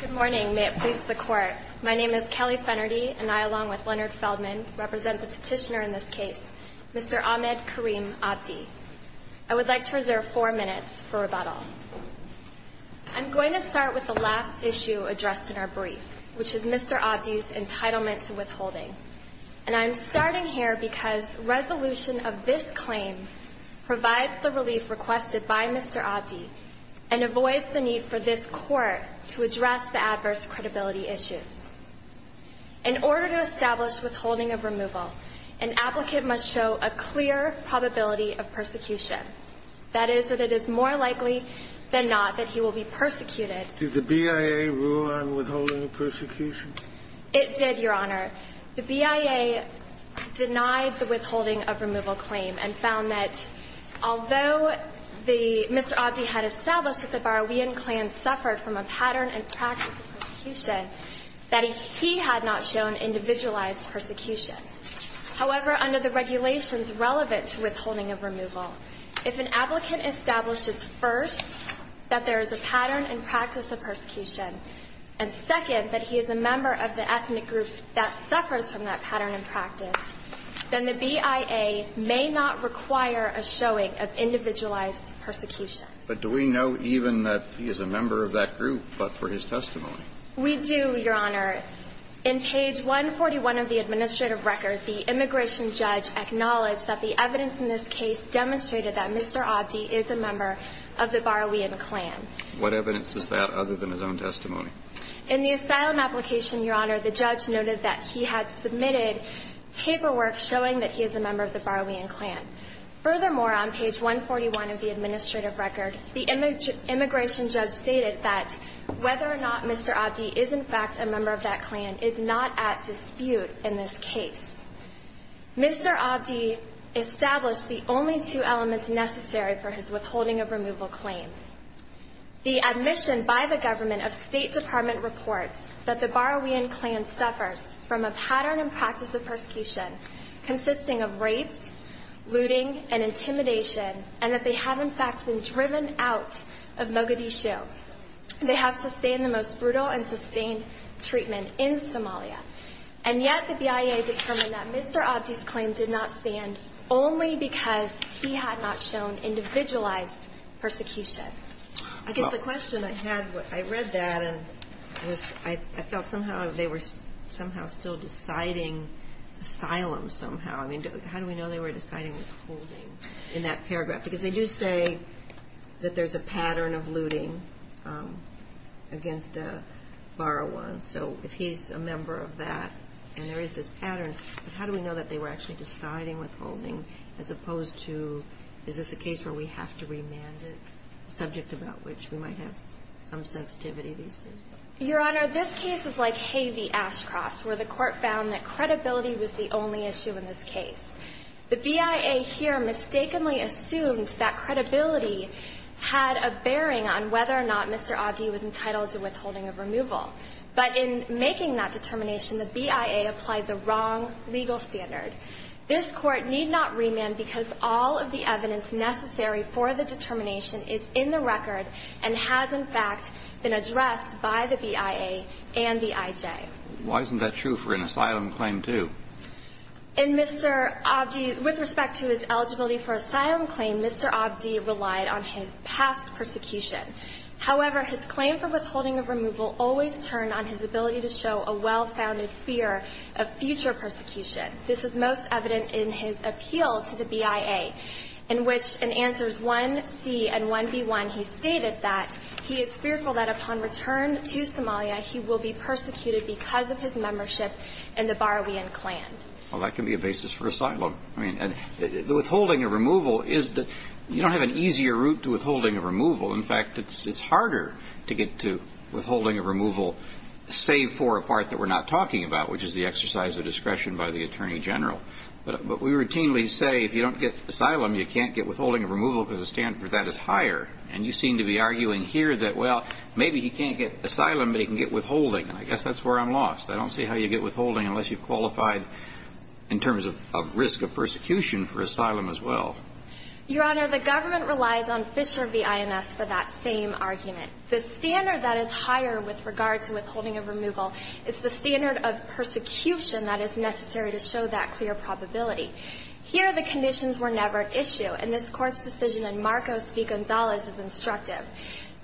Good morning. May it please the Court. My name is Kelly Fennerty and I, along with Leonard Feldman, represent the petitioner in this case, Mr. Ahmed Kareem Abdi. I would like to reserve four minutes for rebuttal. I'm going to start with the last issue addressed in our brief, which is Mr. Abdi's entitlement to withholding. And I'm starting here because resolution of this claim provides the relief requested by Mr. Abdi and avoids the need for this Court to address the adverse credibility issues. In order to establish withholding of removal, an applicant must show a clear probability of persecution. That is, that it is more likely than not that he will be persecuted. Did the BIA rule on withholding of persecution? It did, Your Honor. The BIA denied the withholding of removal claim and found that although Mr. Abdi had established that the Baroian clan suffered from a pattern and practice of persecution, that he had not shown individualized persecution. However, under the regulations relevant to withholding of removal, if an applicant establishes, first, that there is a pattern and practice of persecution, and, second, that he is a member of the ethnic group that suffers from that pattern and practice, then the BIA may not require a showing of individualized persecution. But do we know even that he is a member of that group but for his testimony? We do, Your Honor. In page 141 of the administrative record, the immigration judge acknowledged that the evidence in this case demonstrated that Mr. Abdi is a member of the Baroian clan. What evidence is that other than his own testimony? In the asylum application, Your Honor, the judge noted that he had submitted paperwork showing that he is a member of the Baroian clan. Furthermore, on page 141 of the administrative record, the immigration judge stated that whether or not Mr. Abdi is, in fact, a member of that clan is not at dispute in this case. Mr. Abdi established the only two elements necessary for his withholding of removal claim. The admission by the government of State Department reports that the Baroian clan suffers from a pattern and practice of persecution consisting of rapes, looting, and intimidation, and that they have, in fact, been driven out of Mogadishu. They have sustained the most brutal and sustained treatment in Somalia. And yet the BIA determined that Mr. Abdi's claim did not stand only because he had not shown individualized persecution. I guess the question I had, I read that and I felt somehow they were somehow still deciding asylum somehow. I mean, how do we know they were deciding withholding in that paragraph? Because they do say that there's a pattern of looting against the Baroians. So if he's a member of that and there is this pattern, how do we know that they were actually deciding withholding as opposed to is this a case where we have to remand it, a subject about which we might have some sensitivity these days? Your Honor, this case is like Hay v. Ashcroft's, where the Court found that credibility was the only issue in this case. The BIA here mistakenly assumed that credibility had a bearing on whether or not Mr. Abdi was entitled to withholding of removal. But in making that determination, the BIA applied the wrong legal standard. This Court need not remand because all of the evidence necessary for the determination is in the record and has, in fact, been addressed by the BIA and the IJ. Why isn't that true for an asylum claim, too? In Mr. Abdi, with respect to his eligibility for asylum claim, Mr. Abdi relied on his past persecution. However, his claim for withholding of removal always turned on his ability to show a well-founded fear of future persecution. This is most evident in his appeal to the BIA, in which in answers 1C and 1B1, he stated that he is fearful that upon return to Somalia, he will be persecuted because of his membership in the Baroian clan. Well, that can be a basis for asylum. I mean, withholding of removal is the – you don't have an easier route to withholding of removal. In fact, it's harder to get to withholding of removal save for a part that we're not talking about, which is the exercise of discretion by the Attorney General. But we routinely say if you don't get asylum, you can't get withholding of removal because the standard for that is higher. And you seem to be arguing here that, well, maybe he can't get asylum, but he can get withholding. And I guess that's where I'm lost. I don't see how you get withholding unless you've qualified in terms of risk of persecution for asylum as well. Your Honor, the government relies on Fisher v. INS for that same argument. The standard that is higher with regard to withholding of removal is the standard of persecution that is necessary to show that clear probability. Here, the conditions were never at issue. And this Court's decision in Marcos v. Gonzalez is instructive.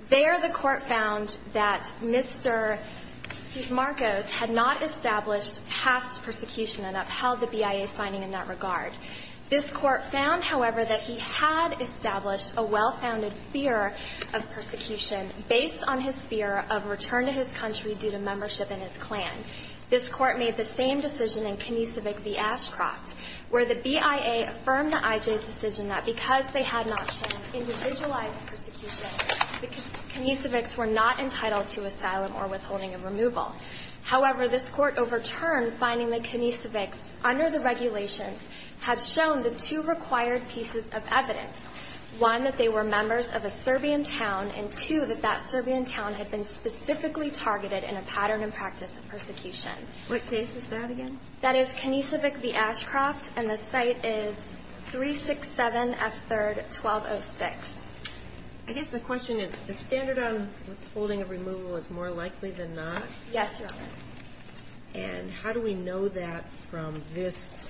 There, the Court found that Mr. Marcos had not established past persecution and upheld the BIA's finding in that regard. This Court found, however, that he had established a well-founded fear of persecution based on his fear of return to his country due to membership in his clan. This Court made the same decision in Knisevich v. Ashcroft, where the BIA affirmed the IJ's decision that because they had not shown individualized persecution, the Knisevichs were not entitled to asylum or withholding of removal. However, this Court overturned finding that Knisevichs, under the regulations, had shown the two required pieces of evidence, one, that they were members of a Serbian town, and, two, that that Serbian town had been specifically targeted in a pattern and practice of persecution. What case is that again? That is Knisevich v. Ashcroft, and the site is 367F3rd 1206. I guess the question is, the standard on withholding of removal is more likely than not? Yes, Your Honor. And how do we know that from this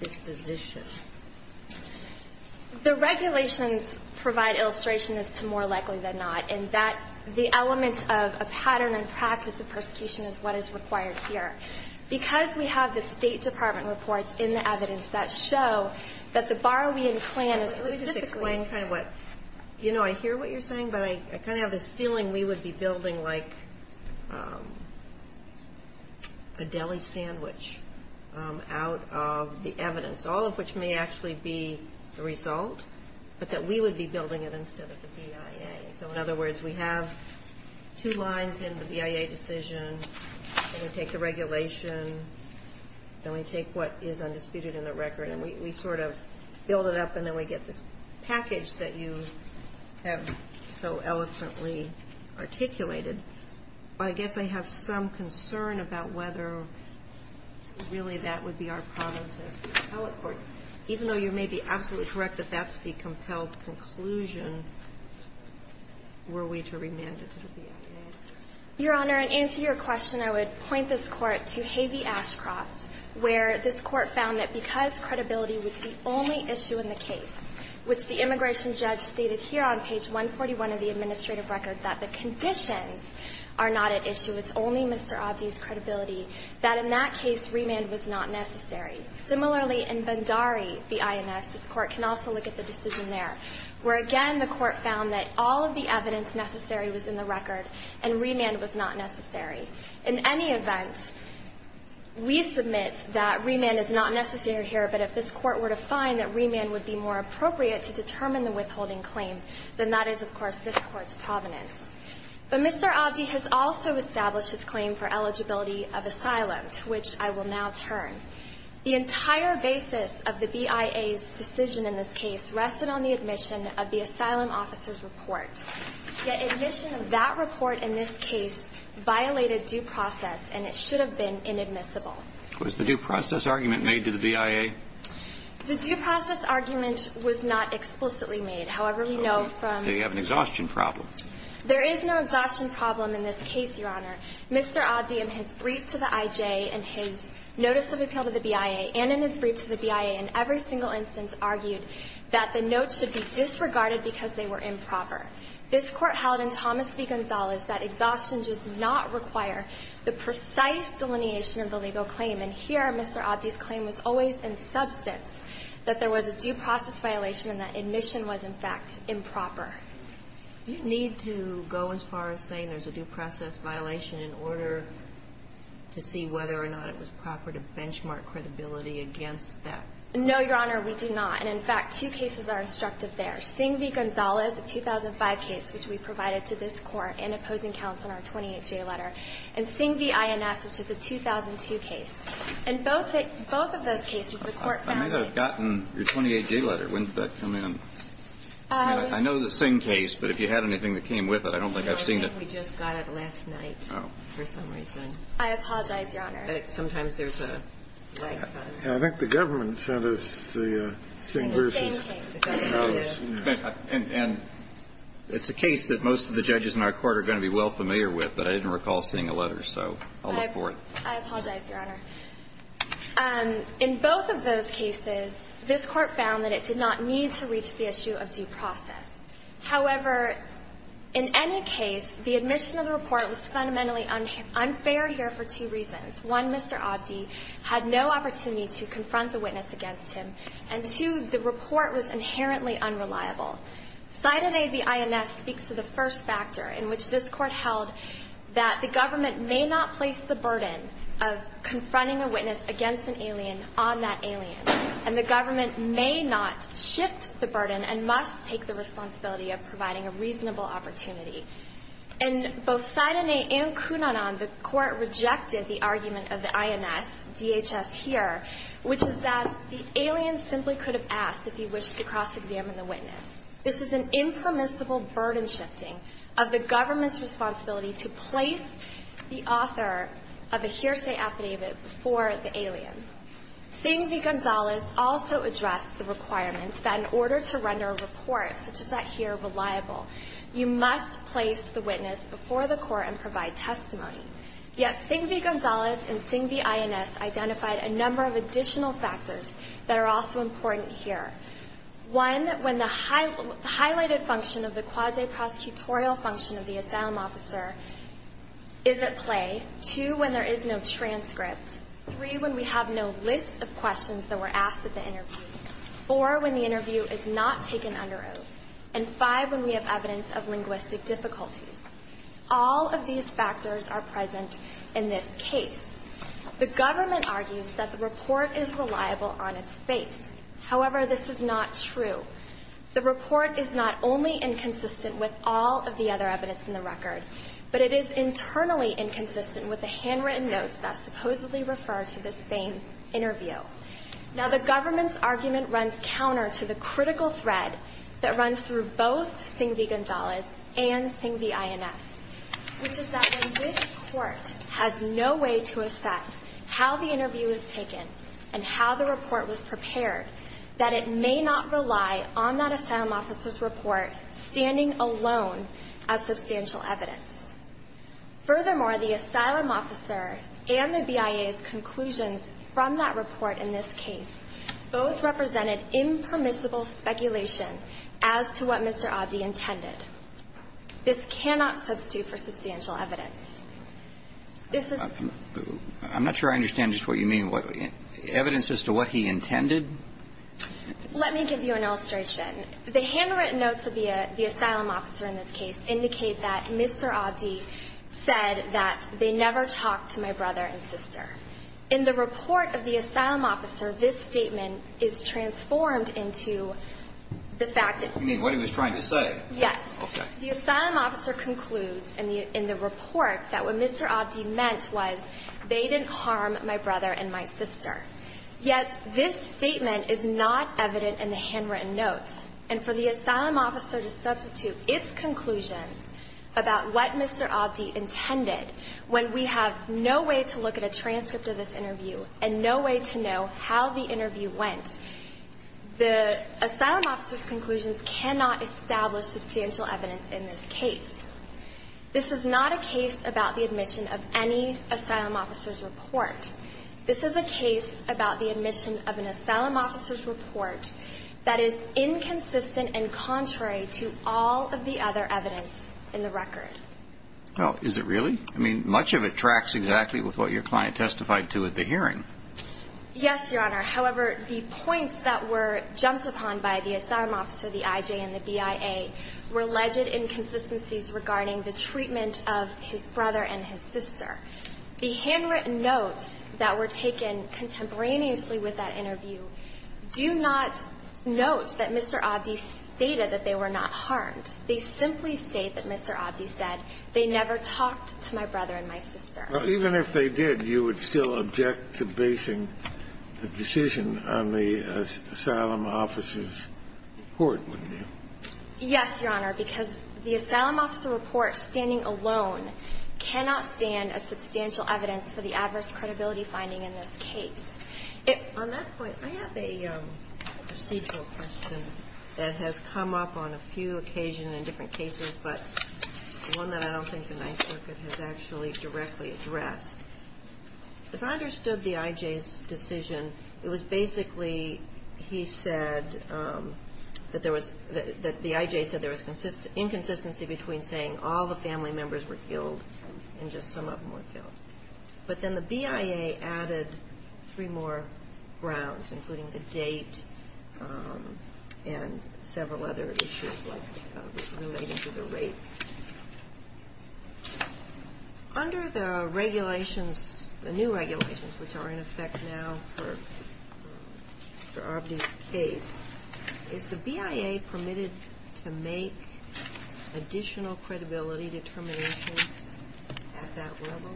disposition? The regulations provide illustration as to more likely than not, and that the element of a pattern and practice of persecution is what is required here. Because we have the State Department reports in the evidence that show that the Barowean clan is specifically ---- Let me just explain kind of what ---- you know, I hear what you're saying, but I kind of have this feeling we would be building like a deli sandwich out of the evidence, all of which may actually be the result, but that we would be building it instead of the BIA. So, in other words, we have two lines in the BIA decision, and we take the regulation, then we take what is undisputed in the record, and we sort of build it up, and then we get this package that you have so eloquently articulated. But I guess I have some concern about whether, really, that would be our problem with the appellate court. Even though you may be absolutely correct that that's the compelled conclusion, were we to remand it to the BIA? Your Honor, in answer to your question, I would point this Court to Hay v. Ashcroft, where this Court found that because credibility was the only issue in the case, which the immigration judge stated here on page 141 of the administrative record that the conditions are not at issue, it's only Mr. Abdi's credibility, that in that case remand was not necessary. Similarly, in Bandari v. INS, this Court can also look at the decision there, where again the Court found that all of the evidence necessary was in the record, and remand was not necessary. In any event, we submit that remand is not necessary here, but if this Court were to find that remand would be more appropriate to determine the withholding claim, then that is, of course, this Court's provenance. But Mr. Abdi has also established his claim for eligibility of asylum, to which I will now turn. The entire basis of the BIA's decision in this case rested on the admission of the asylum officer's report. Yet admission of that report in this case violated due process, and it should have been inadmissible. Was the due process argument made to the BIA? The due process argument was not explicitly made. However, we know from the ---- So you have an exhaustion problem. There is no exhaustion problem in this case, Your Honor. Mr. Abdi, in his brief to the I.J. and his notice of appeal to the BIA, and in his brief to the BIA, in every single instance argued that the notes should be disregarded because they were improper. This Court held in Thomas v. Gonzalez that exhaustion does not require the precise delineation of the legal claim. And here, Mr. Abdi's claim was always in substance that there was a due process violation and that admission was, in fact, improper. Do you need to go as far as saying there's a due process violation in order to see whether or not it was proper to benchmark credibility against that? No, Your Honor, we do not. And in fact, two cases are instructive there. There's Singh v. Gonzalez, a 2005 case, which we provided to this Court in opposing counsel in our 28J letter, and Singh v. INS, which is a 2002 case. In both of those cases, the Court found that ---- I may have gotten your 28J letter. When did that come in? I mean, I know the Singh case, but if you had anything that came with it, I don't think I've seen it. No, I think we just got it last night for some reason. I apologize, Your Honor. Sometimes there's a ---- I think the government sent us the Singh v. Gonzalez. And it's a case that most of the judges in our Court are going to be well familiar with, but I didn't recall seeing a letter, so I'll look for it. I apologize, Your Honor. In both of those cases, this Court found that it did not need to reach the issue of due process. However, in any case, the admission of the report was fundamentally unfair here for two reasons. One, Mr. Abdi had no opportunity to confront the witness against him. And two, the report was inherently unreliable. Sydenay v. INS speaks to the first factor in which this Court held that the government may not place the burden of confronting a witness against an alien on that alien, and the government may not shift the burden and must take the responsibility of providing a reasonable opportunity. In both Sydenay and Cunanan, the Court rejected the argument of the INS, DHS here, which is that the alien simply could have asked if he wished to cross-examine the witness. This is an impermissible burden shifting of the government's responsibility to place the author of a hearsay affidavit before the alien. Singh v. Gonzalez also addressed the requirement that in order to render a report such as that here reliable, you must place the witness before the Court and provide testimony. Yet, Singh v. Gonzalez and Singh v. INS identified a number of additional factors that are also important here. One, when the highlighted function of the quasi-prosecutorial function of the asylum officer is at play. Two, when there is no transcript. Four, when the interview is not taken under oath. And five, when we have evidence of linguistic difficulties. All of these factors are present in this case. The government argues that the report is reliable on its face. However, this is not true. The report is not only inconsistent with all of the other evidence in the record, but it is internally inconsistent with the handwritten notes that supposedly refer to the same interview. Now the government's argument runs counter to the critical thread that runs through both Singh v. Gonzalez and Singh v. INS, which is that when this Court has no way to assess how the interview was taken and how the report was prepared, that it may not rely on that asylum officer's report standing alone as substantial evidence. Furthermore, the asylum officer and the BIA's conclusions from that report in this case both represented impermissible speculation as to what Mr. Abdi intended. This cannot substitute for substantial evidence. This is the ---- I'm not sure I understand just what you mean. Evidence as to what he intended? Let me give you an illustration. The handwritten notes of the asylum officer in this case indicate that Mr. Abdi said that they never talked to my brother and sister. In the report of the asylum officer, this statement is transformed into the fact that ---- You mean what he was trying to say? Yes. Okay. The asylum officer concludes in the report that what Mr. Abdi meant was they didn't harm my brother and my sister. Yet this statement is not evident in the handwritten notes. And for the asylum officer to substitute its conclusions about what Mr. Abdi intended when we have no way to look at a transcript of this interview and no way to know how the interview went, the asylum officer's conclusions cannot establish substantial evidence in this case. This is not a case about the admission of any asylum officer's report. This is a case about the admission of an asylum officer's report that is inconsistent and contrary to all of the other evidence in the record. Oh, is it really? I mean, much of it tracks exactly with what your client testified to at the hearing. Yes, Your Honor. However, the points that were jumped upon by the asylum officer, the IJ, and the BIA were alleged inconsistencies regarding the treatment of his brother and his sister. The handwritten notes that were taken contemporaneously with that interview do not note that Mr. Abdi stated that they were not harmed. They simply state that Mr. Abdi said, they never talked to my brother and my sister. Even if they did, you would still object to basing the decision on the asylum officer's report, wouldn't you? Yes, Your Honor, because the asylum officer report, standing alone, cannot stand as substantial evidence for the adverse credibility finding in this case. On that point, I have a procedural question that has come up on a few occasions in different cases, but one that I don't think the Ninth Circuit has actually directly addressed. As I understood the IJ's decision, it was basically he said that there was the IJ said there was inconsistency between saying all the family members were killed and just some of them were killed. But then the BIA added three more grounds, including the date and several other issues relating to the rape. Under the regulations, the new regulations, which are in effect now for Mr. Abdi's case, is the BIA permitted to make additional credibility determinations at that level?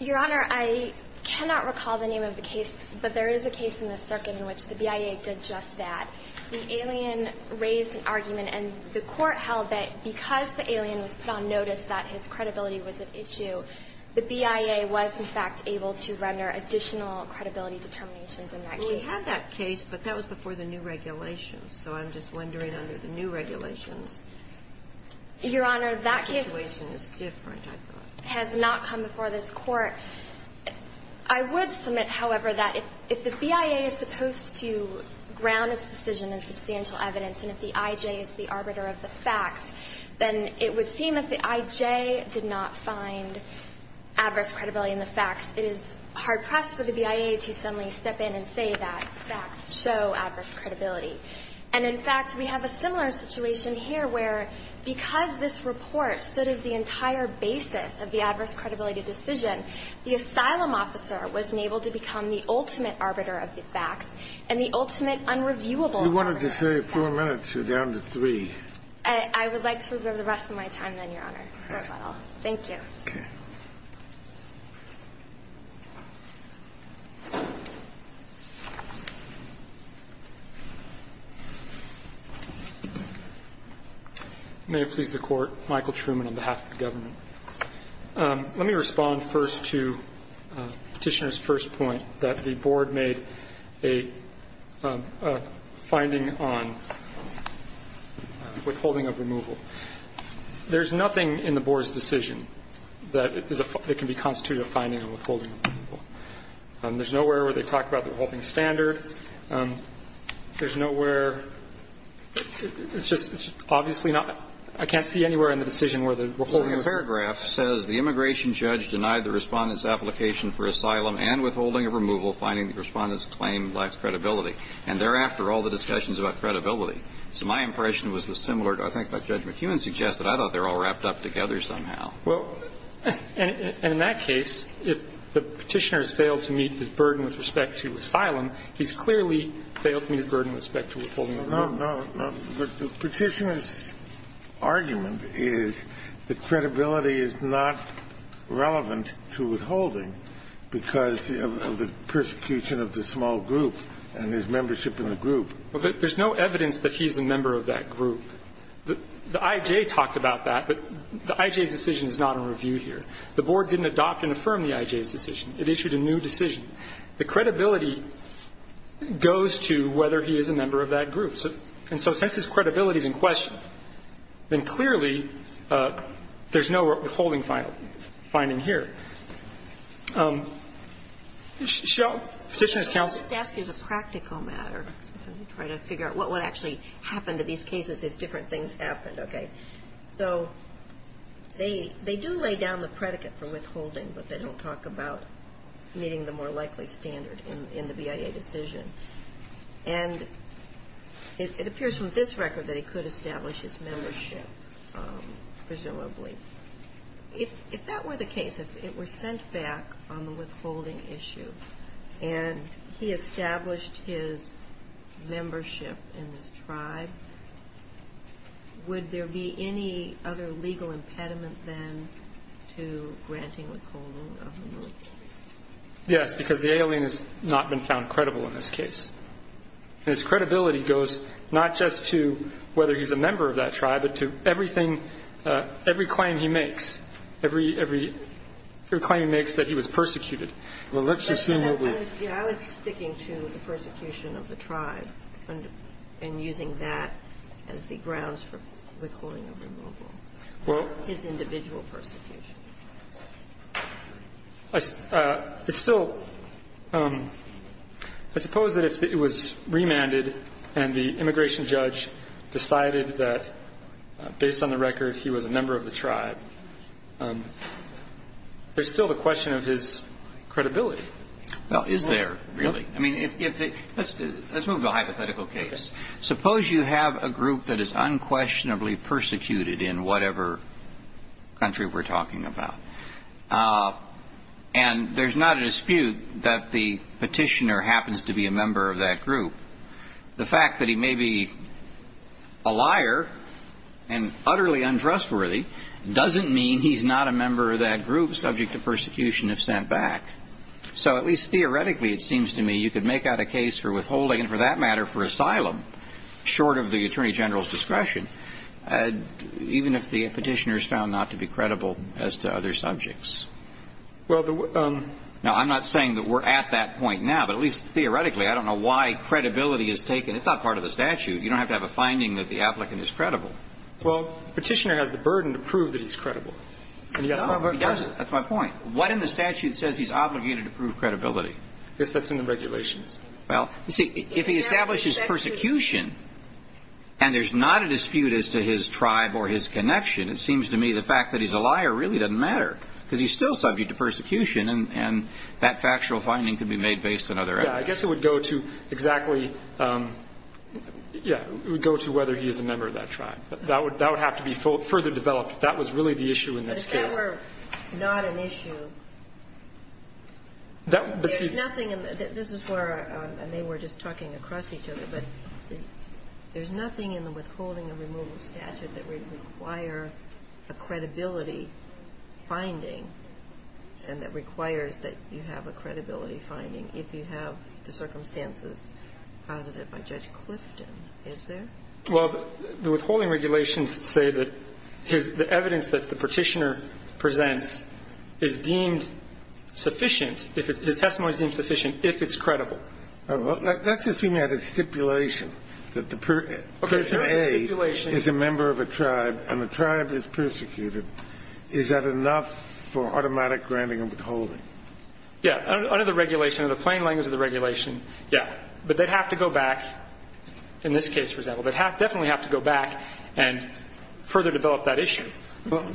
Your Honor, I cannot recall the name of the case, but there is a case in the circuit in which the BIA did just that. The alien raised an argument, and the Court held that because the alien was put on notice that his credibility was at issue, the BIA was, in fact, able to render additional credibility determinations in that case. We had that case, but that was before the new regulations. So I'm just wondering under the new regulations, the situation is different, I thought. Your Honor, that case has not come before this Court. I would submit, however, that if the BIA is supposed to ground its decision in substantial evidence and if the IJ is the arbiter of the facts, then it would seem if the IJ did not find adverse credibility in the facts, it is hard-pressed for the BIA to suddenly step in and say that facts show adverse credibility. And, in fact, we have a similar situation here where because this report stood as the entire basis of the adverse credibility decision, the asylum officer wasn't able to become the ultimate arbiter of the facts and the ultimate unreviewable arbiter of the facts. We wanted to save four minutes. You're down to three. I would like to reserve the rest of my time then, Your Honor. All right. Thank you. May it please the Court. Michael Truman on behalf of the government. Let me respond first to Petitioner's first point, that the Board made a finding on withholding of removal. There's nothing in the Board's decision that can be constituted a finding on withholding of removal. There's nowhere where they talk about the withholding standard. There's nowhere, it's just obviously not, I can't see anywhere in the decision where the withholding of removal. The paragraph says, The immigration judge denied the Respondent's application for asylum and withholding of removal finding the Respondent's claim lacks credibility. And thereafter, all the discussions about credibility. So my impression was the similar, I think, that Judge McEwen suggested. I thought they were all wrapped up together somehow. Well, and in that case, if the Petitioner has failed to meet his burden with respect to asylum, he's clearly failed to meet his burden with respect to withholding of removal. No, no, no. But the Petitioner's argument is that credibility is not relevant to withholding because of the persecution of the small group and his membership in the group. There's no evidence that he's a member of that group. The I.J. talked about that, but the I.J.'s decision is not in review here. The Board didn't adopt and affirm the I.J.'s decision. It issued a new decision. The credibility goes to whether he is a member of that group. And so since his credibility is in question, then clearly there's no withholding finding here. Petitioner's counsel. I'll just ask you the practical matter and try to figure out what would actually happen to these cases if different things happened, okay? So they do lay down the predicate for withholding, but they don't talk about meeting the more likely standard in the BIA decision. And it appears from this record that he could establish his membership, presumably. If that were the case, if it were sent back on the withholding issue and he established his membership in this tribe, would there be any other legal impediment then to granting withholding of the military? Yes, because the alien has not been found credible in this case. And his credibility goes not just to whether he's a member of that tribe, but to everything every claim he makes, every claim he makes that he was persecuted. Well, let's assume he'll be. Yeah, I was sticking to the persecution of the tribe and using that as the grounds for the claim of removal. Well. His individual persecution. It's still, I suppose that if it was remanded and the immigration judge decided that based on the record he was a member of the tribe, there's still the question of his credibility. Well, is there really? I mean, let's move to a hypothetical case. Suppose you have a group that is unquestionably persecuted in whatever country we're talking about. And there's not a dispute that the petitioner happens to be a member of that group. The fact that he may be a liar and utterly untrustworthy doesn't mean he's not a member of that group subject to persecution if sent back. So at least theoretically it seems to me you could make out a case for withholding, and for that matter for asylum, short of the Attorney General's discretion, even if the petitioner is found not to be credible as to other subjects. Now, I'm not saying that we're at that point now, but at least theoretically. I don't know why credibility is taken. It's not part of the statute. You don't have to have a finding that the applicant is credible. Well, the petitioner has the burden to prove that he's credible. That's my point. What in the statute says he's obligated to prove credibility? I guess that's in the regulations. Well, you see, if he establishes persecution and there's not a dispute as to his tribe or his connection, it seems to me the fact that he's a liar really doesn't matter because he's still subject to persecution, and that factual finding could be made based on other evidence. Yeah. I guess it would go to exactly, yeah, it would go to whether he is a member of that tribe. That would have to be further developed if that was really the issue in this case. If that were not an issue, there's nothing in the – this is where they were just talking across each other, but there's nothing in the withholding and removal statute that would require a credibility finding and that requires that you have a credibility finding if you have the circumstances posited by Judge Clifton. Is there? Well, the withholding regulations say that the evidence that the petitioner presents is deemed sufficient if it's – his testimony is deemed sufficient if it's credible. That's assuming that it's stipulation, that the person A is a member of a tribe and the tribe is persecuted. Is that enough for automatic granting and withholding? Yeah. Under the regulation, under the plain language of the regulation, yeah. But they'd have to go back in this case, for example. They'd definitely have to go back and further develop that issue. Well,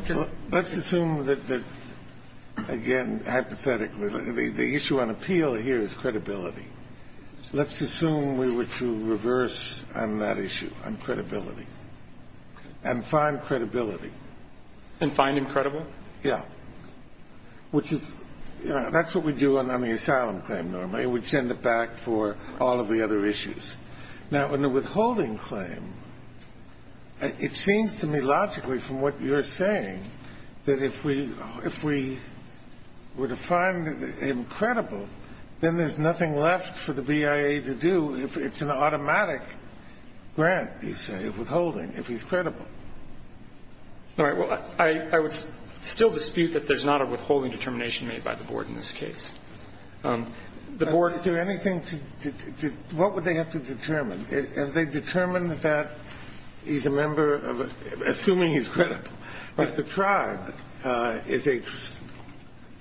let's assume that, again, hypothetically, the issue on appeal here is credibility. Let's assume we were to reverse on that issue on credibility and find credibility. And find him credible? Yeah. Which is – that's what we do on the asylum claim normally. We'd send it back for all of the other issues. Now, in the withholding claim, it seems to me logically from what you're saying that if we were to find him credible, then there's nothing left for the BIA to do. It's an automatic grant, you say, of withholding if he's credible. All right. Well, I would still dispute that there's not a withholding determination made by the Board in this case. The Board – Is there anything to – what would they have to determine? Have they determined that he's a member of – assuming he's credible. Right. That the tribe is a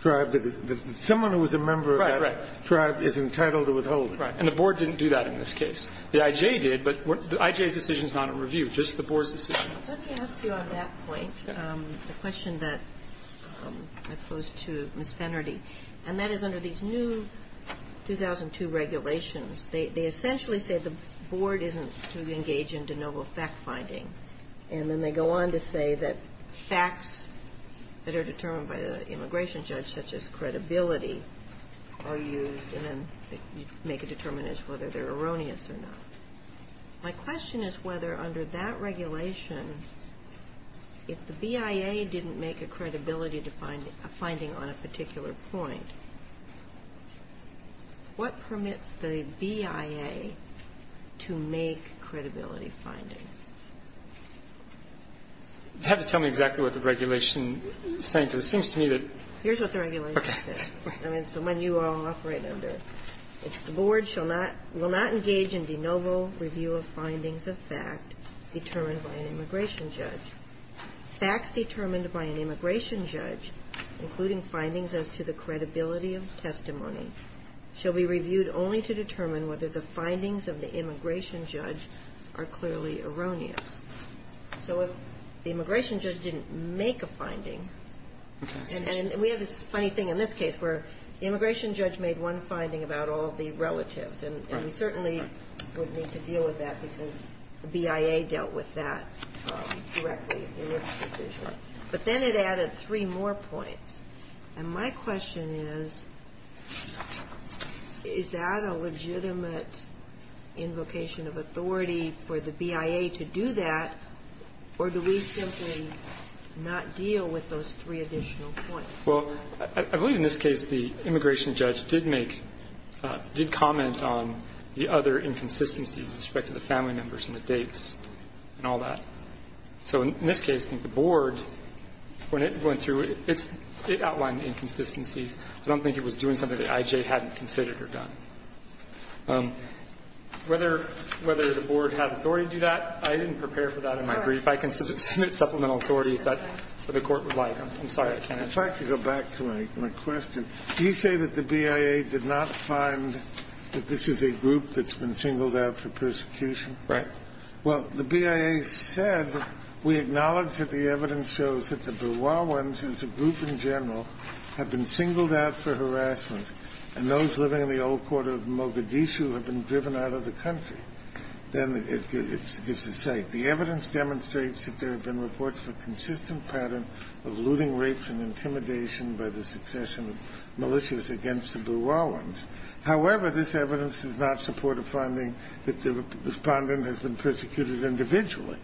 tribe that is – someone who is a member of that tribe is entitled to withholding. And the Board didn't do that in this case. The I.J. did, but I.J.'s decision is not in review. Just the Board's decision. Let me ask you on that point a question that I pose to Ms. Fennerty. And that is under these new 2002 regulations, they essentially say the Board isn't to engage in de novo fact-finding. And then they go on to say that facts that are determined by the immigration judge, such as credibility, are used and then you make a determination as to whether they're erroneous or not. My question is whether under that regulation, if the BIA didn't make a credibility finding on a particular point, what permits the BIA to make credibility findings? You have to tell me exactly what the regulation is saying, because it seems to me that – Here's what the regulation says. Okay. I mean, it's the one you all operate under. It's the Board shall not – will not engage in de novo review of findings of fact determined by an immigration judge. Facts determined by an immigration judge, including findings as to the credibility of testimony, shall be reviewed only to determine whether the findings of the immigration judge are clearly erroneous. So if the immigration judge didn't make a finding, and we have this funny thing in this case where the immigration judge made one finding about all the relatives and we certainly wouldn't need to deal with that because the BIA dealt with that directly in its decision. But then it added three more points. And my question is, is that a legitimate invocation of authority for the BIA to do that, or do we simply not deal with those three additional points? Well, I believe in this case the immigration judge did make – did comment on the other inconsistencies with respect to the family members and the dates and all that. So in this case, I think the Board, when it went through, it outlined inconsistencies. I don't think it was doing something that I.J. hadn't considered or done. Whether the Board has authority to do that, I didn't prepare for that in my brief. I can submit supplemental authority if that's what the Court would like. I'm sorry. If I could go back to my question. You say that the BIA did not find that this is a group that's been singled out for persecution? Right. Well, the BIA said, we acknowledge that the evidence shows that the Berwawans as a group in general have been singled out for harassment, and those living in the old quarter of Mogadishu have been driven out of the country. Then it gives a say. The evidence demonstrates that there have been reports of a consistent pattern of looting, rapes, and intimidation by the succession of militias against the Berwawans. However, this evidence does not support a finding that the Respondent has been persecuted individually.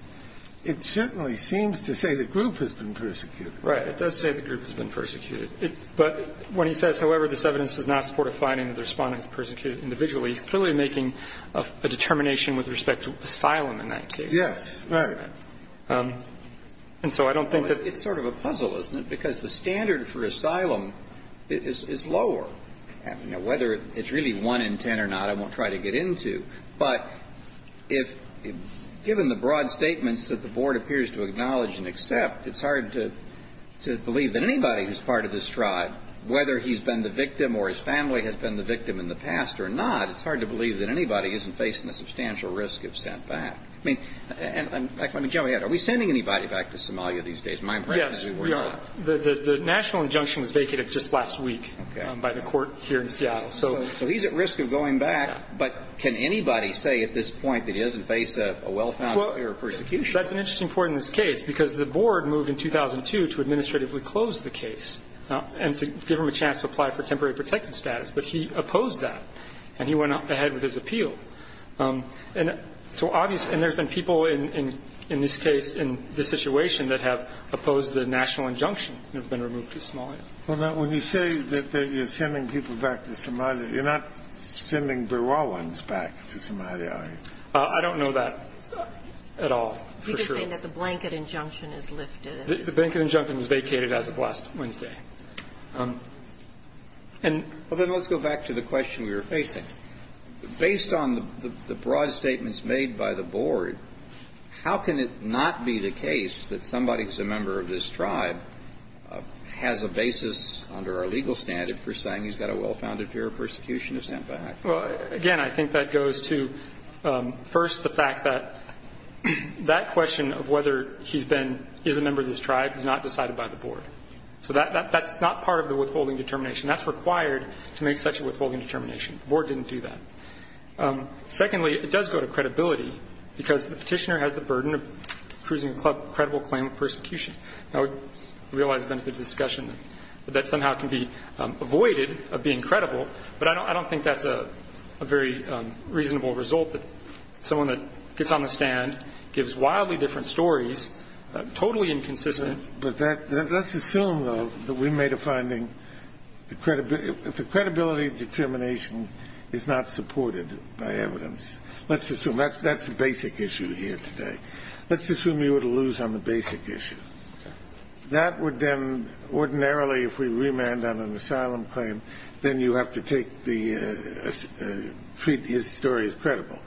It certainly seems to say the group has been persecuted. Right. It does say the group has been persecuted. But when he says, however, this evidence does not support a finding that the Respondent has been persecuted individually, he's clearly making a determination with respect to asylum in that case. Right. And so I don't think that It's sort of a puzzle, isn't it? Because the standard for asylum is lower. Whether it's really 1 in 10 or not, I won't try to get into. But if given the broad statements that the Board appears to acknowledge and accept, it's hard to believe that anybody who's part of this tribe, whether he's been the victim or his family has been the victim in the past or not, it's hard to believe that anybody isn't facing a substantial risk of sent back. I mean, and let me jump ahead. Are we sending anybody back to Somalia these days? My impression is we're not. Yes, we are. The national injunction was vacated just last week by the Court here in Seattle. So he's at risk of going back, but can anybody say at this point that he doesn't face a well-found area of persecution? Well, that's an interesting point in this case, because the Board moved in 2002 to administratively close the case and to give him a chance to apply for temporary protected status. But he opposed that, and he went ahead with his appeal. And so obviously – and there's been people in this case, in this situation, that have opposed the national injunction and have been removed to Somalia. Well, now, when you say that you're sending people back to Somalia, you're not sending Berowans back to Somalia, are you? I don't know that at all, for sure. You're just saying that the blanket injunction is lifted. The blanket injunction was vacated as of last Wednesday. Well, then let's go back to the question we were facing. Based on the broad statements made by the Board, how can it not be the case that somebody who's a member of this tribe has a basis under our legal standard for saying he's got a well-founded area of persecution to send back? Well, again, I think that goes to, first, the fact that that question of whether he's been – is a member of this tribe is not decided by the Board. So that's not part of the withholding determination. That's required to make such a withholding determination. The Board didn't do that. Secondly, it does go to credibility, because the Petitioner has the burden of proving a credible claim of persecution. Now, I realize we've been through the discussion that that somehow can be avoided of being credible, but I don't think that's a very reasonable result that someone that gets on the stand, gives wildly different stories, totally inconsistent. But that – let's assume, though, that we made a finding the credibility of determination is not supported by evidence. Let's assume. That's the basic issue here today. Let's assume you were to lose on the basic issue. That would then, ordinarily, if we remand on an asylum claim, then you have to take the – treat his story as credible.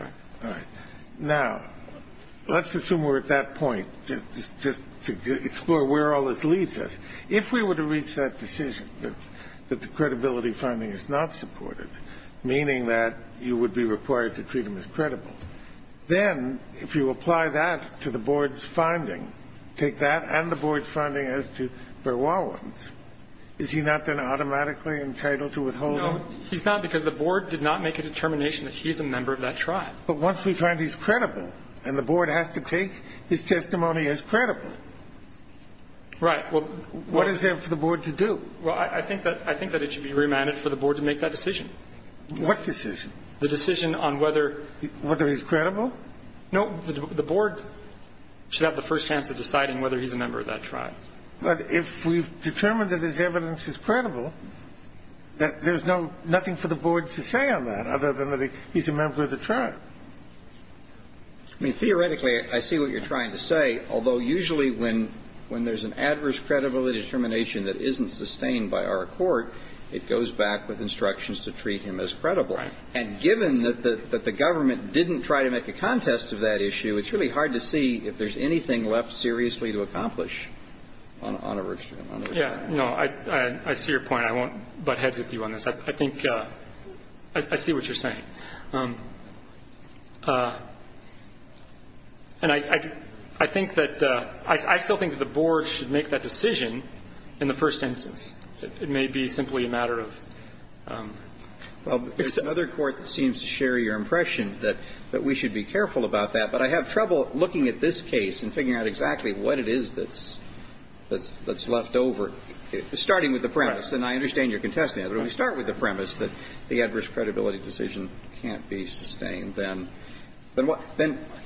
All right. Now, let's assume we're at that point, just to explore where all this leads us. If we were to reach that decision, that the credibility finding is not supported, meaning that you would be required to treat him as credible, then, if you apply that to the Board's finding, take that and the Board's finding as to Berwawan's, is he not then automatically entitled to withholding? No, he's not, because the Board did not make a determination that he's a member of that tribe. But once we find he's credible, and the Board has to take his testimony as credible. Right. Well, what is there for the Board to do? Well, I think that it should be remanded for the Board to make that decision. What decision? The decision on whether he's credible? No. The Board should have the first chance of deciding whether he's a member of that tribe. But if we've determined that his evidence is credible, that there's no – nothing for the Board to say on that, other than that he's a member of the tribe. I mean, theoretically, I see what you're trying to say. Although, usually, when there's an adverse credibility determination that isn't sustained by our court, it goes back with instructions to treat him as credible. Right. And given that the government didn't try to make a contest of that issue, it's really hard to see if there's anything left seriously to accomplish on a version of that. Yeah. I see your point. I won't butt heads with you on this. I think – I see what you're saying. And I think that – I still think that the Board should make that decision in the first instance. It may be simply a matter of – Well, there's another court that seems to share your impression that we should be careful about that. But I have trouble looking at this case and figuring out exactly what it is that's left over, starting with the premise. Right. And I understand you're contesting it. But when we start with the premise that the adverse credibility decision can't be sustained, then what –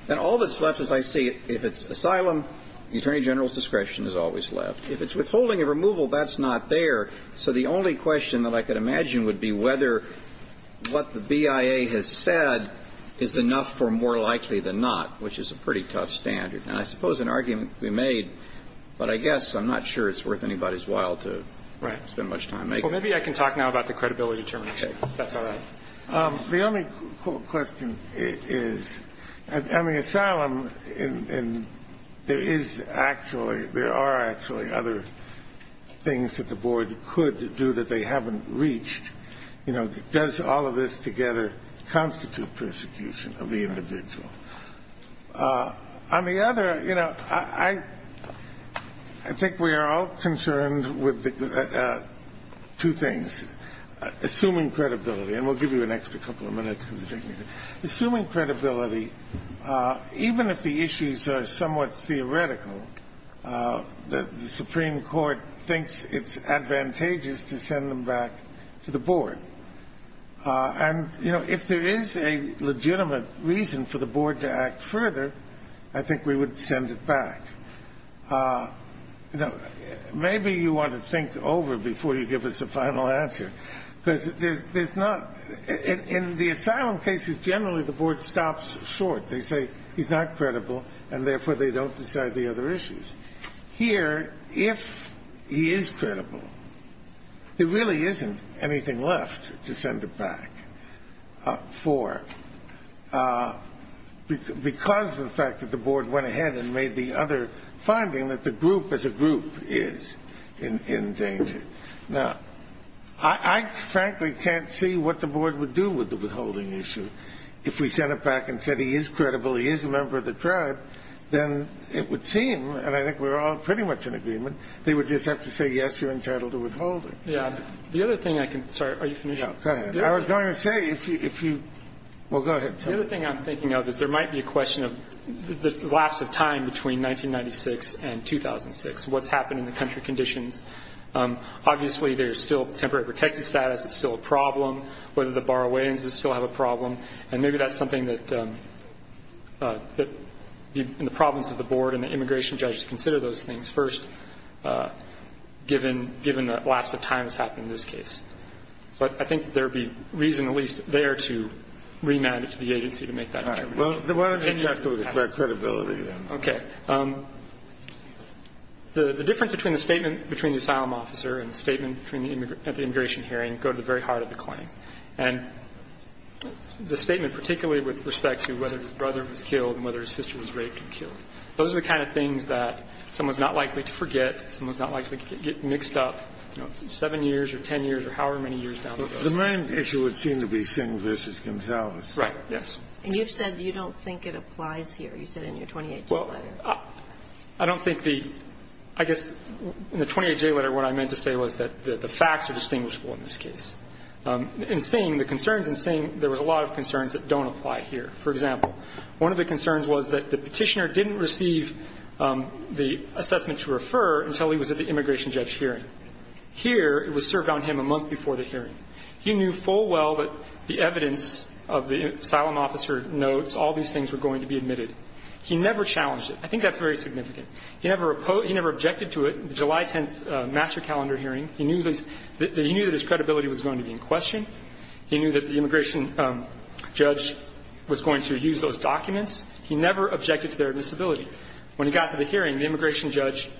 then all that's left, as I see it, if it's asylum, the Attorney General's discretion is always left. If it's withholding a removal, that's not there. So the only question that I could imagine would be whether what the BIA has said is enough for more likely than not, which is a pretty tough standard. And I suppose an argument could be made, but I guess I'm not sure it's worth anybody's while to – Right. – spend much time making. Well, maybe I can talk now about the credibility determination, if that's all right. The only question is, I mean, asylum, and there is actually – there are actually other things that the board could do that they haven't reached. You know, does all of this together constitute persecution of the individual? On the other, you know, I think we are all concerned with two things. Assuming credibility. And we'll give you an extra couple of minutes. Assuming credibility, even if the issues are somewhat theoretical, the Supreme Court thinks it's advantageous to send them back to the board. And, you know, if there is a legitimate reason for the board to act further, I think we would send it back. You know, maybe you want to think over before you give us a final answer, because there's not – in the asylum cases, generally the board stops short. They say he's not credible, and therefore they don't decide the other issues. Here, if he is credible, there really isn't anything left to send it back for, because of the fact that the board went ahead and made the other finding that the group as a group is in danger. Now, I frankly can't see what the board would do with the withholding issue. If we sent it back and said he is credible, he is a member of the tribe, then it would seem, and I think we're all pretty much in agreement, they would just have to say, yes, you're entitled to withhold it. Yeah. The other thing I can – sorry. Are you finished? Yeah, go ahead. I was going to say, if you – well, go ahead. The other thing I'm thinking of is there might be a question of the lapse of time between 1996 and 2006, what's happened in the country conditions. Obviously, there's still temporary protected status. It's still a problem. Whether the borrowed lands still have a problem. And maybe that's something that the province of the board and the immigration judges consider those things first, given the lapse of time that's happened in this case. But I think there would be reason at least there to remand it to the agency to make that determination. All right. Well, then why don't you have to expect credibility then? Okay. The difference between the statement between the asylum officer and the statement at the immigration hearing go to the very heart of the claim. And the statement particularly with respect to whether his brother was killed and whether his sister was raped and killed. Those are the kind of things that someone's not likely to forget, someone's not likely to get mixed up, you know, 7 years or 10 years or however many years down the road. The main issue would seem to be Singh v. Gonsalves. Right. Yes. And you've said you don't think it applies here. You said in your 28J letter. Well, I don't think the – I guess in the 28J letter what I meant to say was that the facts are distinguishable in this case. In Singh, the concerns in Singh, there was a lot of concerns that don't apply here. For example, one of the concerns was that the Petitioner didn't receive the assessment to refer until he was at the immigration judge hearing. Here, it was served on him a month before the hearing. He knew full well that the evidence of the asylum officer notes, all these things were going to be admitted. He never challenged it. I think that's very significant. He never objected to it, the July 10th master calendar hearing. He knew that his credibility was going to be in question. He knew that the immigration judge was going to use those documents. He never objected to their disability. When he got to the hearing, the immigration judge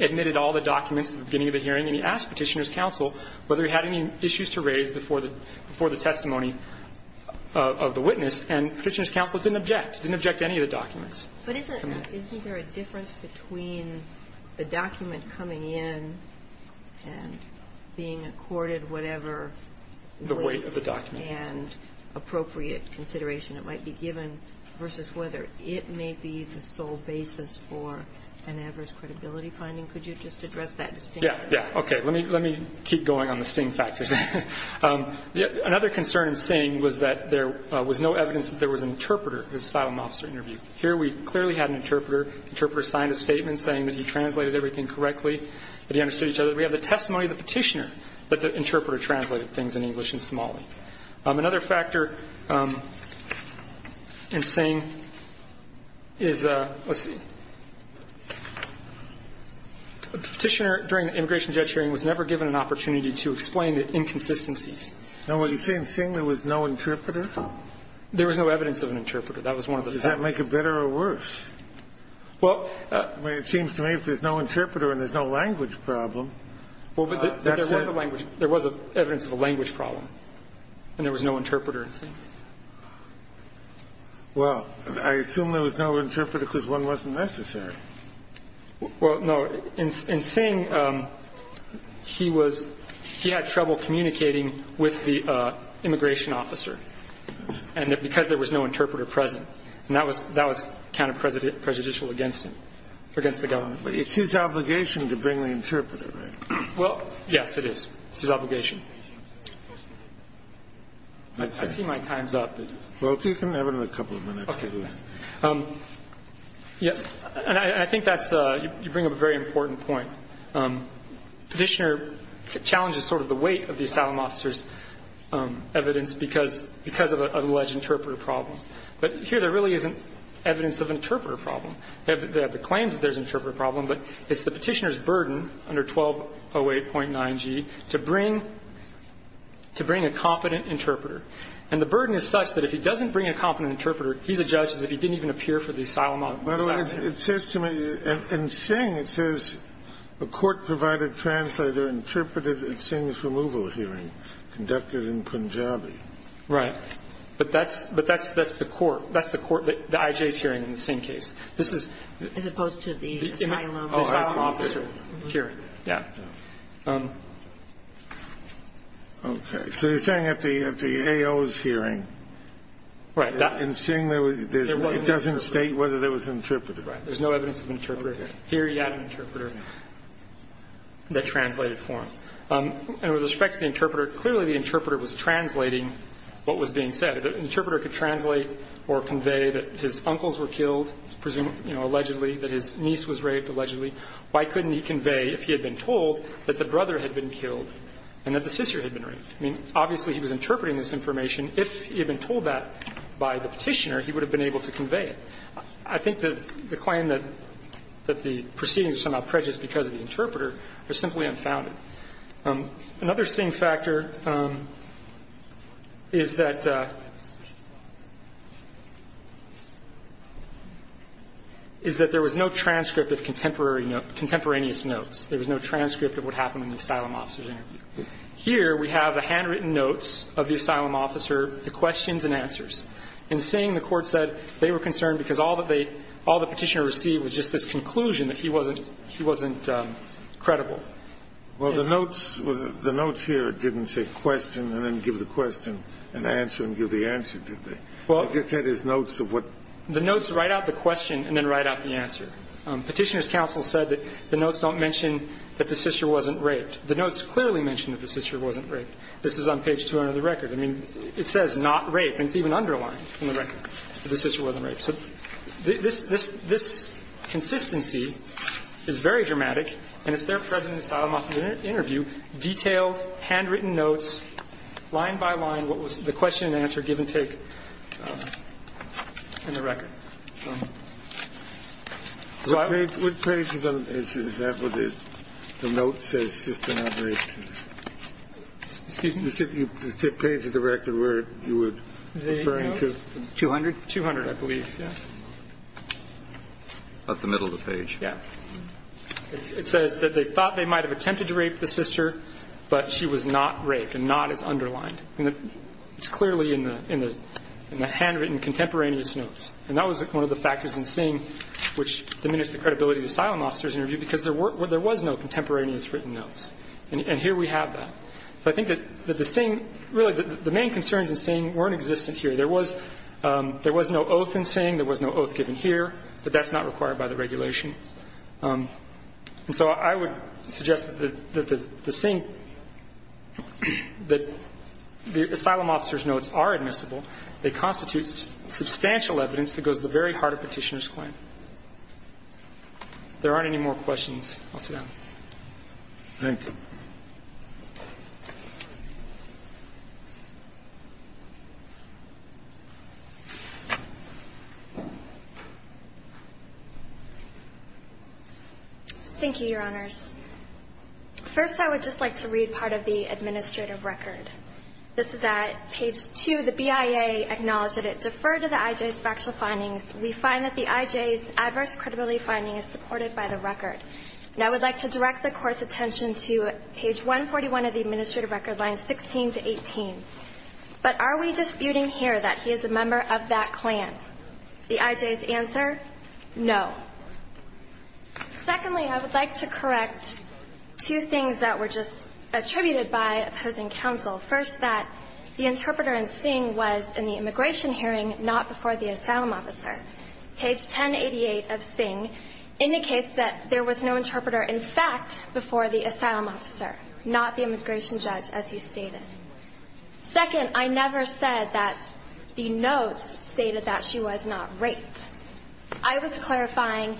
admitted all the documents at the beginning of the hearing, and he asked Petitioner's counsel whether he had any issues to raise before the testimony of the witness, and Petitioner's counsel didn't object. He didn't object to any of the documents. But isn't there a difference between the document coming in and being accorded whatever weight and appropriate consideration it might be given versus whether it may be the sole basis for an adverse credibility finding? Could you just address that distinction? Yeah. Yeah. Okay. Let me keep going on the Singh factors. Another concern of Singh was that there was no evidence that there was an interpreter in the asylum officer interview. Here, we clearly had an interpreter. The interpreter signed a statement saying that he translated everything correctly, that he understood each other. We have the testimony of the Petitioner, but the interpreter translated things in English and Somali. Another factor in Singh is the Petitioner during the immigration judge hearing was never given an opportunity to explain the inconsistencies. Now, when you say in Singh there was no interpreter? There was no evidence of an interpreter. That was one of the factors. Does that make it better or worse? Well. I mean, it seems to me if there's no interpreter and there's no language problem, that's it. Well, but there was a language. There was evidence of a language problem, and there was no interpreter in Singh. Well, I assume there was no interpreter because one wasn't necessary. Well, no. In Singh, he was he had trouble communicating with the immigration officer. And because there was no interpreter present, that was kind of prejudicial against him, against the government. But it's his obligation to bring the interpreter, right? Well, yes, it is. It's his obligation. I see my time's up. Well, if you can have another couple of minutes. Okay. And I think that's you bring up a very important point. Petitioner challenges sort of the weight of the asylum officer's evidence because of an alleged interpreter problem. But here there really isn't evidence of an interpreter problem. They have the claims that there's an interpreter problem, but it's the petitioner's burden under 1208.9g to bring a competent interpreter. And the burden is such that if he doesn't bring a competent interpreter, he's a judge as if he didn't even appear for the asylum officer. By the way, it says to me in Singh, it says a court-provided translator interpreted Singh's removal hearing conducted in Punjabi. Right. But that's the court. That's the court, the IJ's hearing in the Singh case. This is the asylum officer hearing. Oh, I see. Yeah. Okay. So you're saying at the AO's hearing, in Singh, it doesn't state whether there was an interpreter. There's no evidence of an interpreter. Here you have an interpreter that translated for him. And with respect to the interpreter, clearly the interpreter was translating what was being said. The interpreter could translate or convey that his uncles were killed, presumably, you know, allegedly, that his niece was raped, allegedly. Why couldn't he convey, if he had been told, that the brother had been killed and that the sister had been raped? I mean, obviously he was interpreting this information. If he had been told that by the petitioner, he would have been able to convey it. I think the claim that the proceedings are somehow prejudiced because of the interpreter is simply unfounded. Another Singh factor is that there was no transcript of contemporaneous notes. There was no transcript of what happened in the asylum officer's interview. Here we have the handwritten notes of the asylum officer, the questions and answers. In Singh, the Court said they were concerned because all the petitioner received was just this conclusion that he wasn't credible. Well, the notes here didn't say question and then give the question and answer and give the answer, did they? I guess that is notes of what? The notes write out the question and then write out the answer. Petitioner's counsel said that the notes don't mention that the sister wasn't raped. The notes clearly mention that the sister wasn't raped. This is on page 200 of the record. I mean, it says not raped, and it's even underlined in the record that the sister wasn't raped. So this consistency is very dramatic, and it's there present in the asylum officer's interview, detailed, handwritten notes, line by line, what was the question and answer give and take in the record. So I would. What page is that where the note says sister not raped? Excuse me? The page of the record where you were referring to. 200? Yeah. About the middle of the page. Yeah. It says that they thought they might have attempted to rape the sister, but she was not raped, and not is underlined. It's clearly in the handwritten contemporaneous notes. And that was one of the factors in seeing which diminished the credibility of the asylum officer's interview, because there was no contemporaneous written notes. And here we have that. So I think that the same, really, the main concerns in seeing weren't existent There was no oath in seeing. There was no oath given here. But that's not required by the regulation. And so I would suggest that the same, that the asylum officer's notes are admissible. They constitute substantial evidence that goes to the very heart of Petitioner's claim. If there aren't any more questions, I'll sit down. Thank you. Thank you, Your Honors. First, I would just like to read part of the administrative record. This is at page 2. The BIA acknowledged that it deferred to the IJ's factual findings. We find that the IJ's adverse credibility finding is supported by the record. And I would like to direct the Court's attention to the administrative findings. This is at page 2. Page 141 of the administrative record, lines 16 to 18. But are we disputing here that he is a member of that clan? The IJ's answer, no. Secondly, I would like to correct two things that were just attributed by opposing counsel. First, that the interpreter in Sing was in the immigration hearing, not before the asylum officer. Page 1088 of Sing indicates that there was no interpreter, in fact, before the asylum officer, not the immigration judge, as he stated. Second, I never said that the notes stated that she was not raped. I was clarifying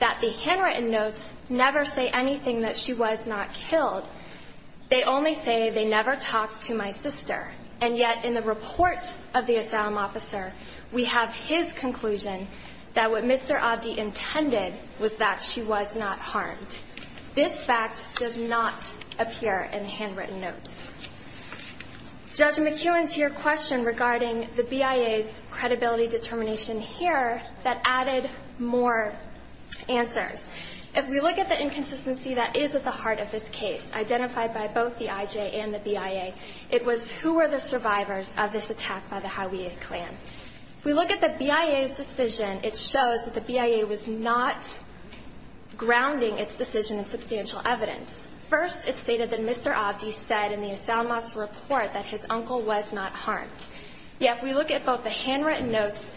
that the handwritten notes never say anything that she was not killed. They only say they never talked to my sister. And yet, in the report of the asylum officer, we have his conclusion that what Mr. Abdi intended was that she was not harmed. This fact does not appear in the handwritten notes. Judge McKeown, to your question regarding the BIA's credibility determination here, that added more answers. If we look at the inconsistency that is at the heart of this case, identified by both the IJ and the BIA, it was who were the survivors of this attack by the Hauwea clan. If we look at the BIA's decision, it shows that the BIA was not grounding its decision in substantial evidence. First, it stated that Mr. Abdi said in the asylum officer report that his uncle was not harmed. Yet, if we look at both the handwritten notes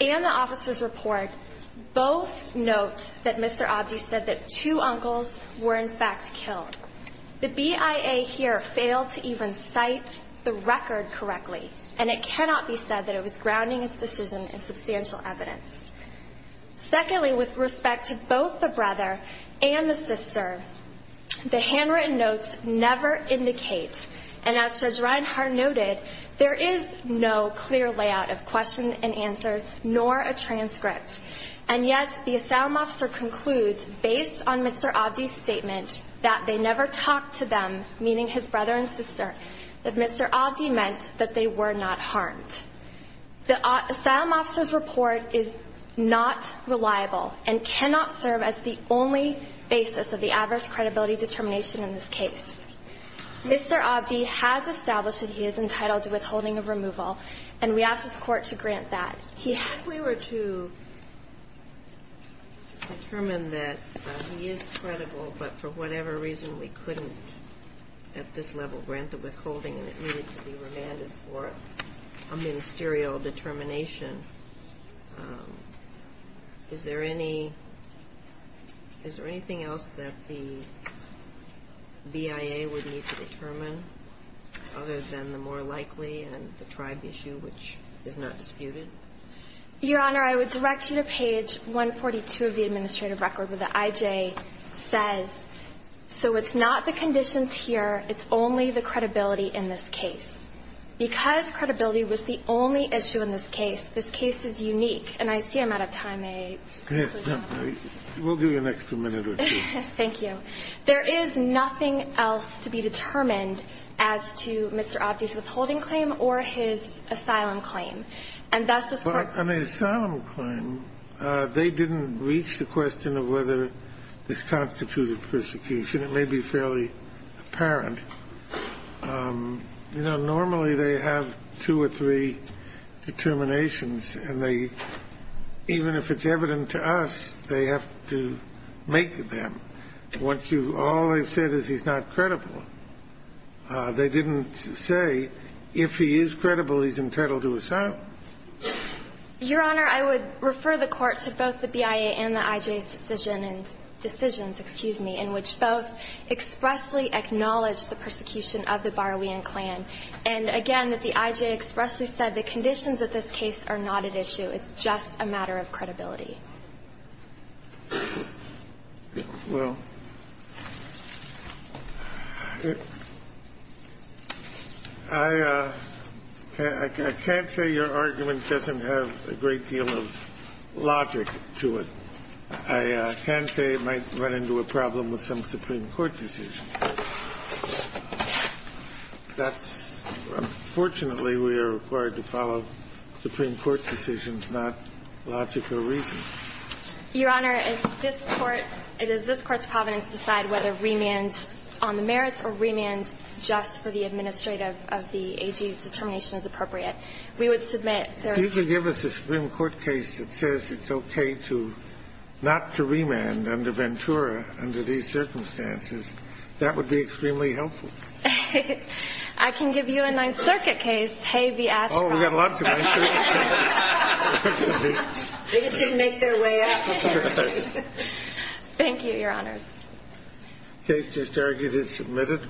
and the officer's report, both note that Mr. Abdi said that two uncles were, in fact, killed. The BIA here failed to even cite the record correctly, and it cannot be said that it was grounding its decision in substantial evidence. Secondly, with respect to both the brother and the sister, the handwritten notes never indicate, and as Judge Reinhart noted, there is no clear layout of questions and answers, nor a transcript. And yet, the asylum officer concludes, based on Mr. Abdi's statement, that they never talked to them, meaning his brother and sister, that Mr. Abdi meant that they were not harmed. The asylum officer's report is not reliable and cannot serve as the only basis of the adverse credibility determination in this case. Mr. Abdi has established that he is entitled to withholding of removal, and we ask this Court to grant that. He has to be grounded. Ginsburg. If we were to determine that he is credible, but for whatever reason we couldn't at this level grant the withholding and it needed to be remanded for a ministerial determination, is there any – is there anything else that the BIA would need to determine other than the more likely and the tribe issue, which is not disputed? Your Honor, I would direct you to page 142 of the administrative record where the conditions here, it's only the credibility in this case. Because credibility was the only issue in this case, this case is unique, and I see I'm out of time. We'll give you an extra minute or two. Thank you. There is nothing else to be determined as to Mr. Abdi's withholding claim or his asylum claim. And thus, this Court – But an asylum claim, they didn't reach the question of whether this constituted persecution. It may be fairly apparent. You know, normally they have two or three determinations, and they – even if it's evident to us, they have to make them. Once you – all they've said is he's not credible. They didn't say if he is credible, he's entitled to asylum. Your Honor, I would refer the Court to both the BIA and the IJ's decision and – decisions, excuse me – in which both expressly acknowledged the persecution of the Baruian clan, and again, that the IJ expressly said the conditions of this case are not at issue. It's just a matter of credibility. Well, I can't say your argument doesn't have a great deal of logic to it. I can say it might run into a problem with some Supreme Court decisions. That's – unfortunately, we are required to follow Supreme Court decisions, not logic or reason. Your Honor, it's this Court – it is this Court's providence to decide whether remand on the merits or remand just for the administrative of the AG's determination is appropriate. We would submit their opinion. If you could give us a Supreme Court case that says it's okay to – not to remand under Ventura under these circumstances, that would be extremely helpful. I can give you a Ninth Circuit case. Hey, the astronauts. Oh, we've got a lot of Ninth Circuit cases. They just didn't make their way up. Thank you, Your Honors. Case just argued is submitted.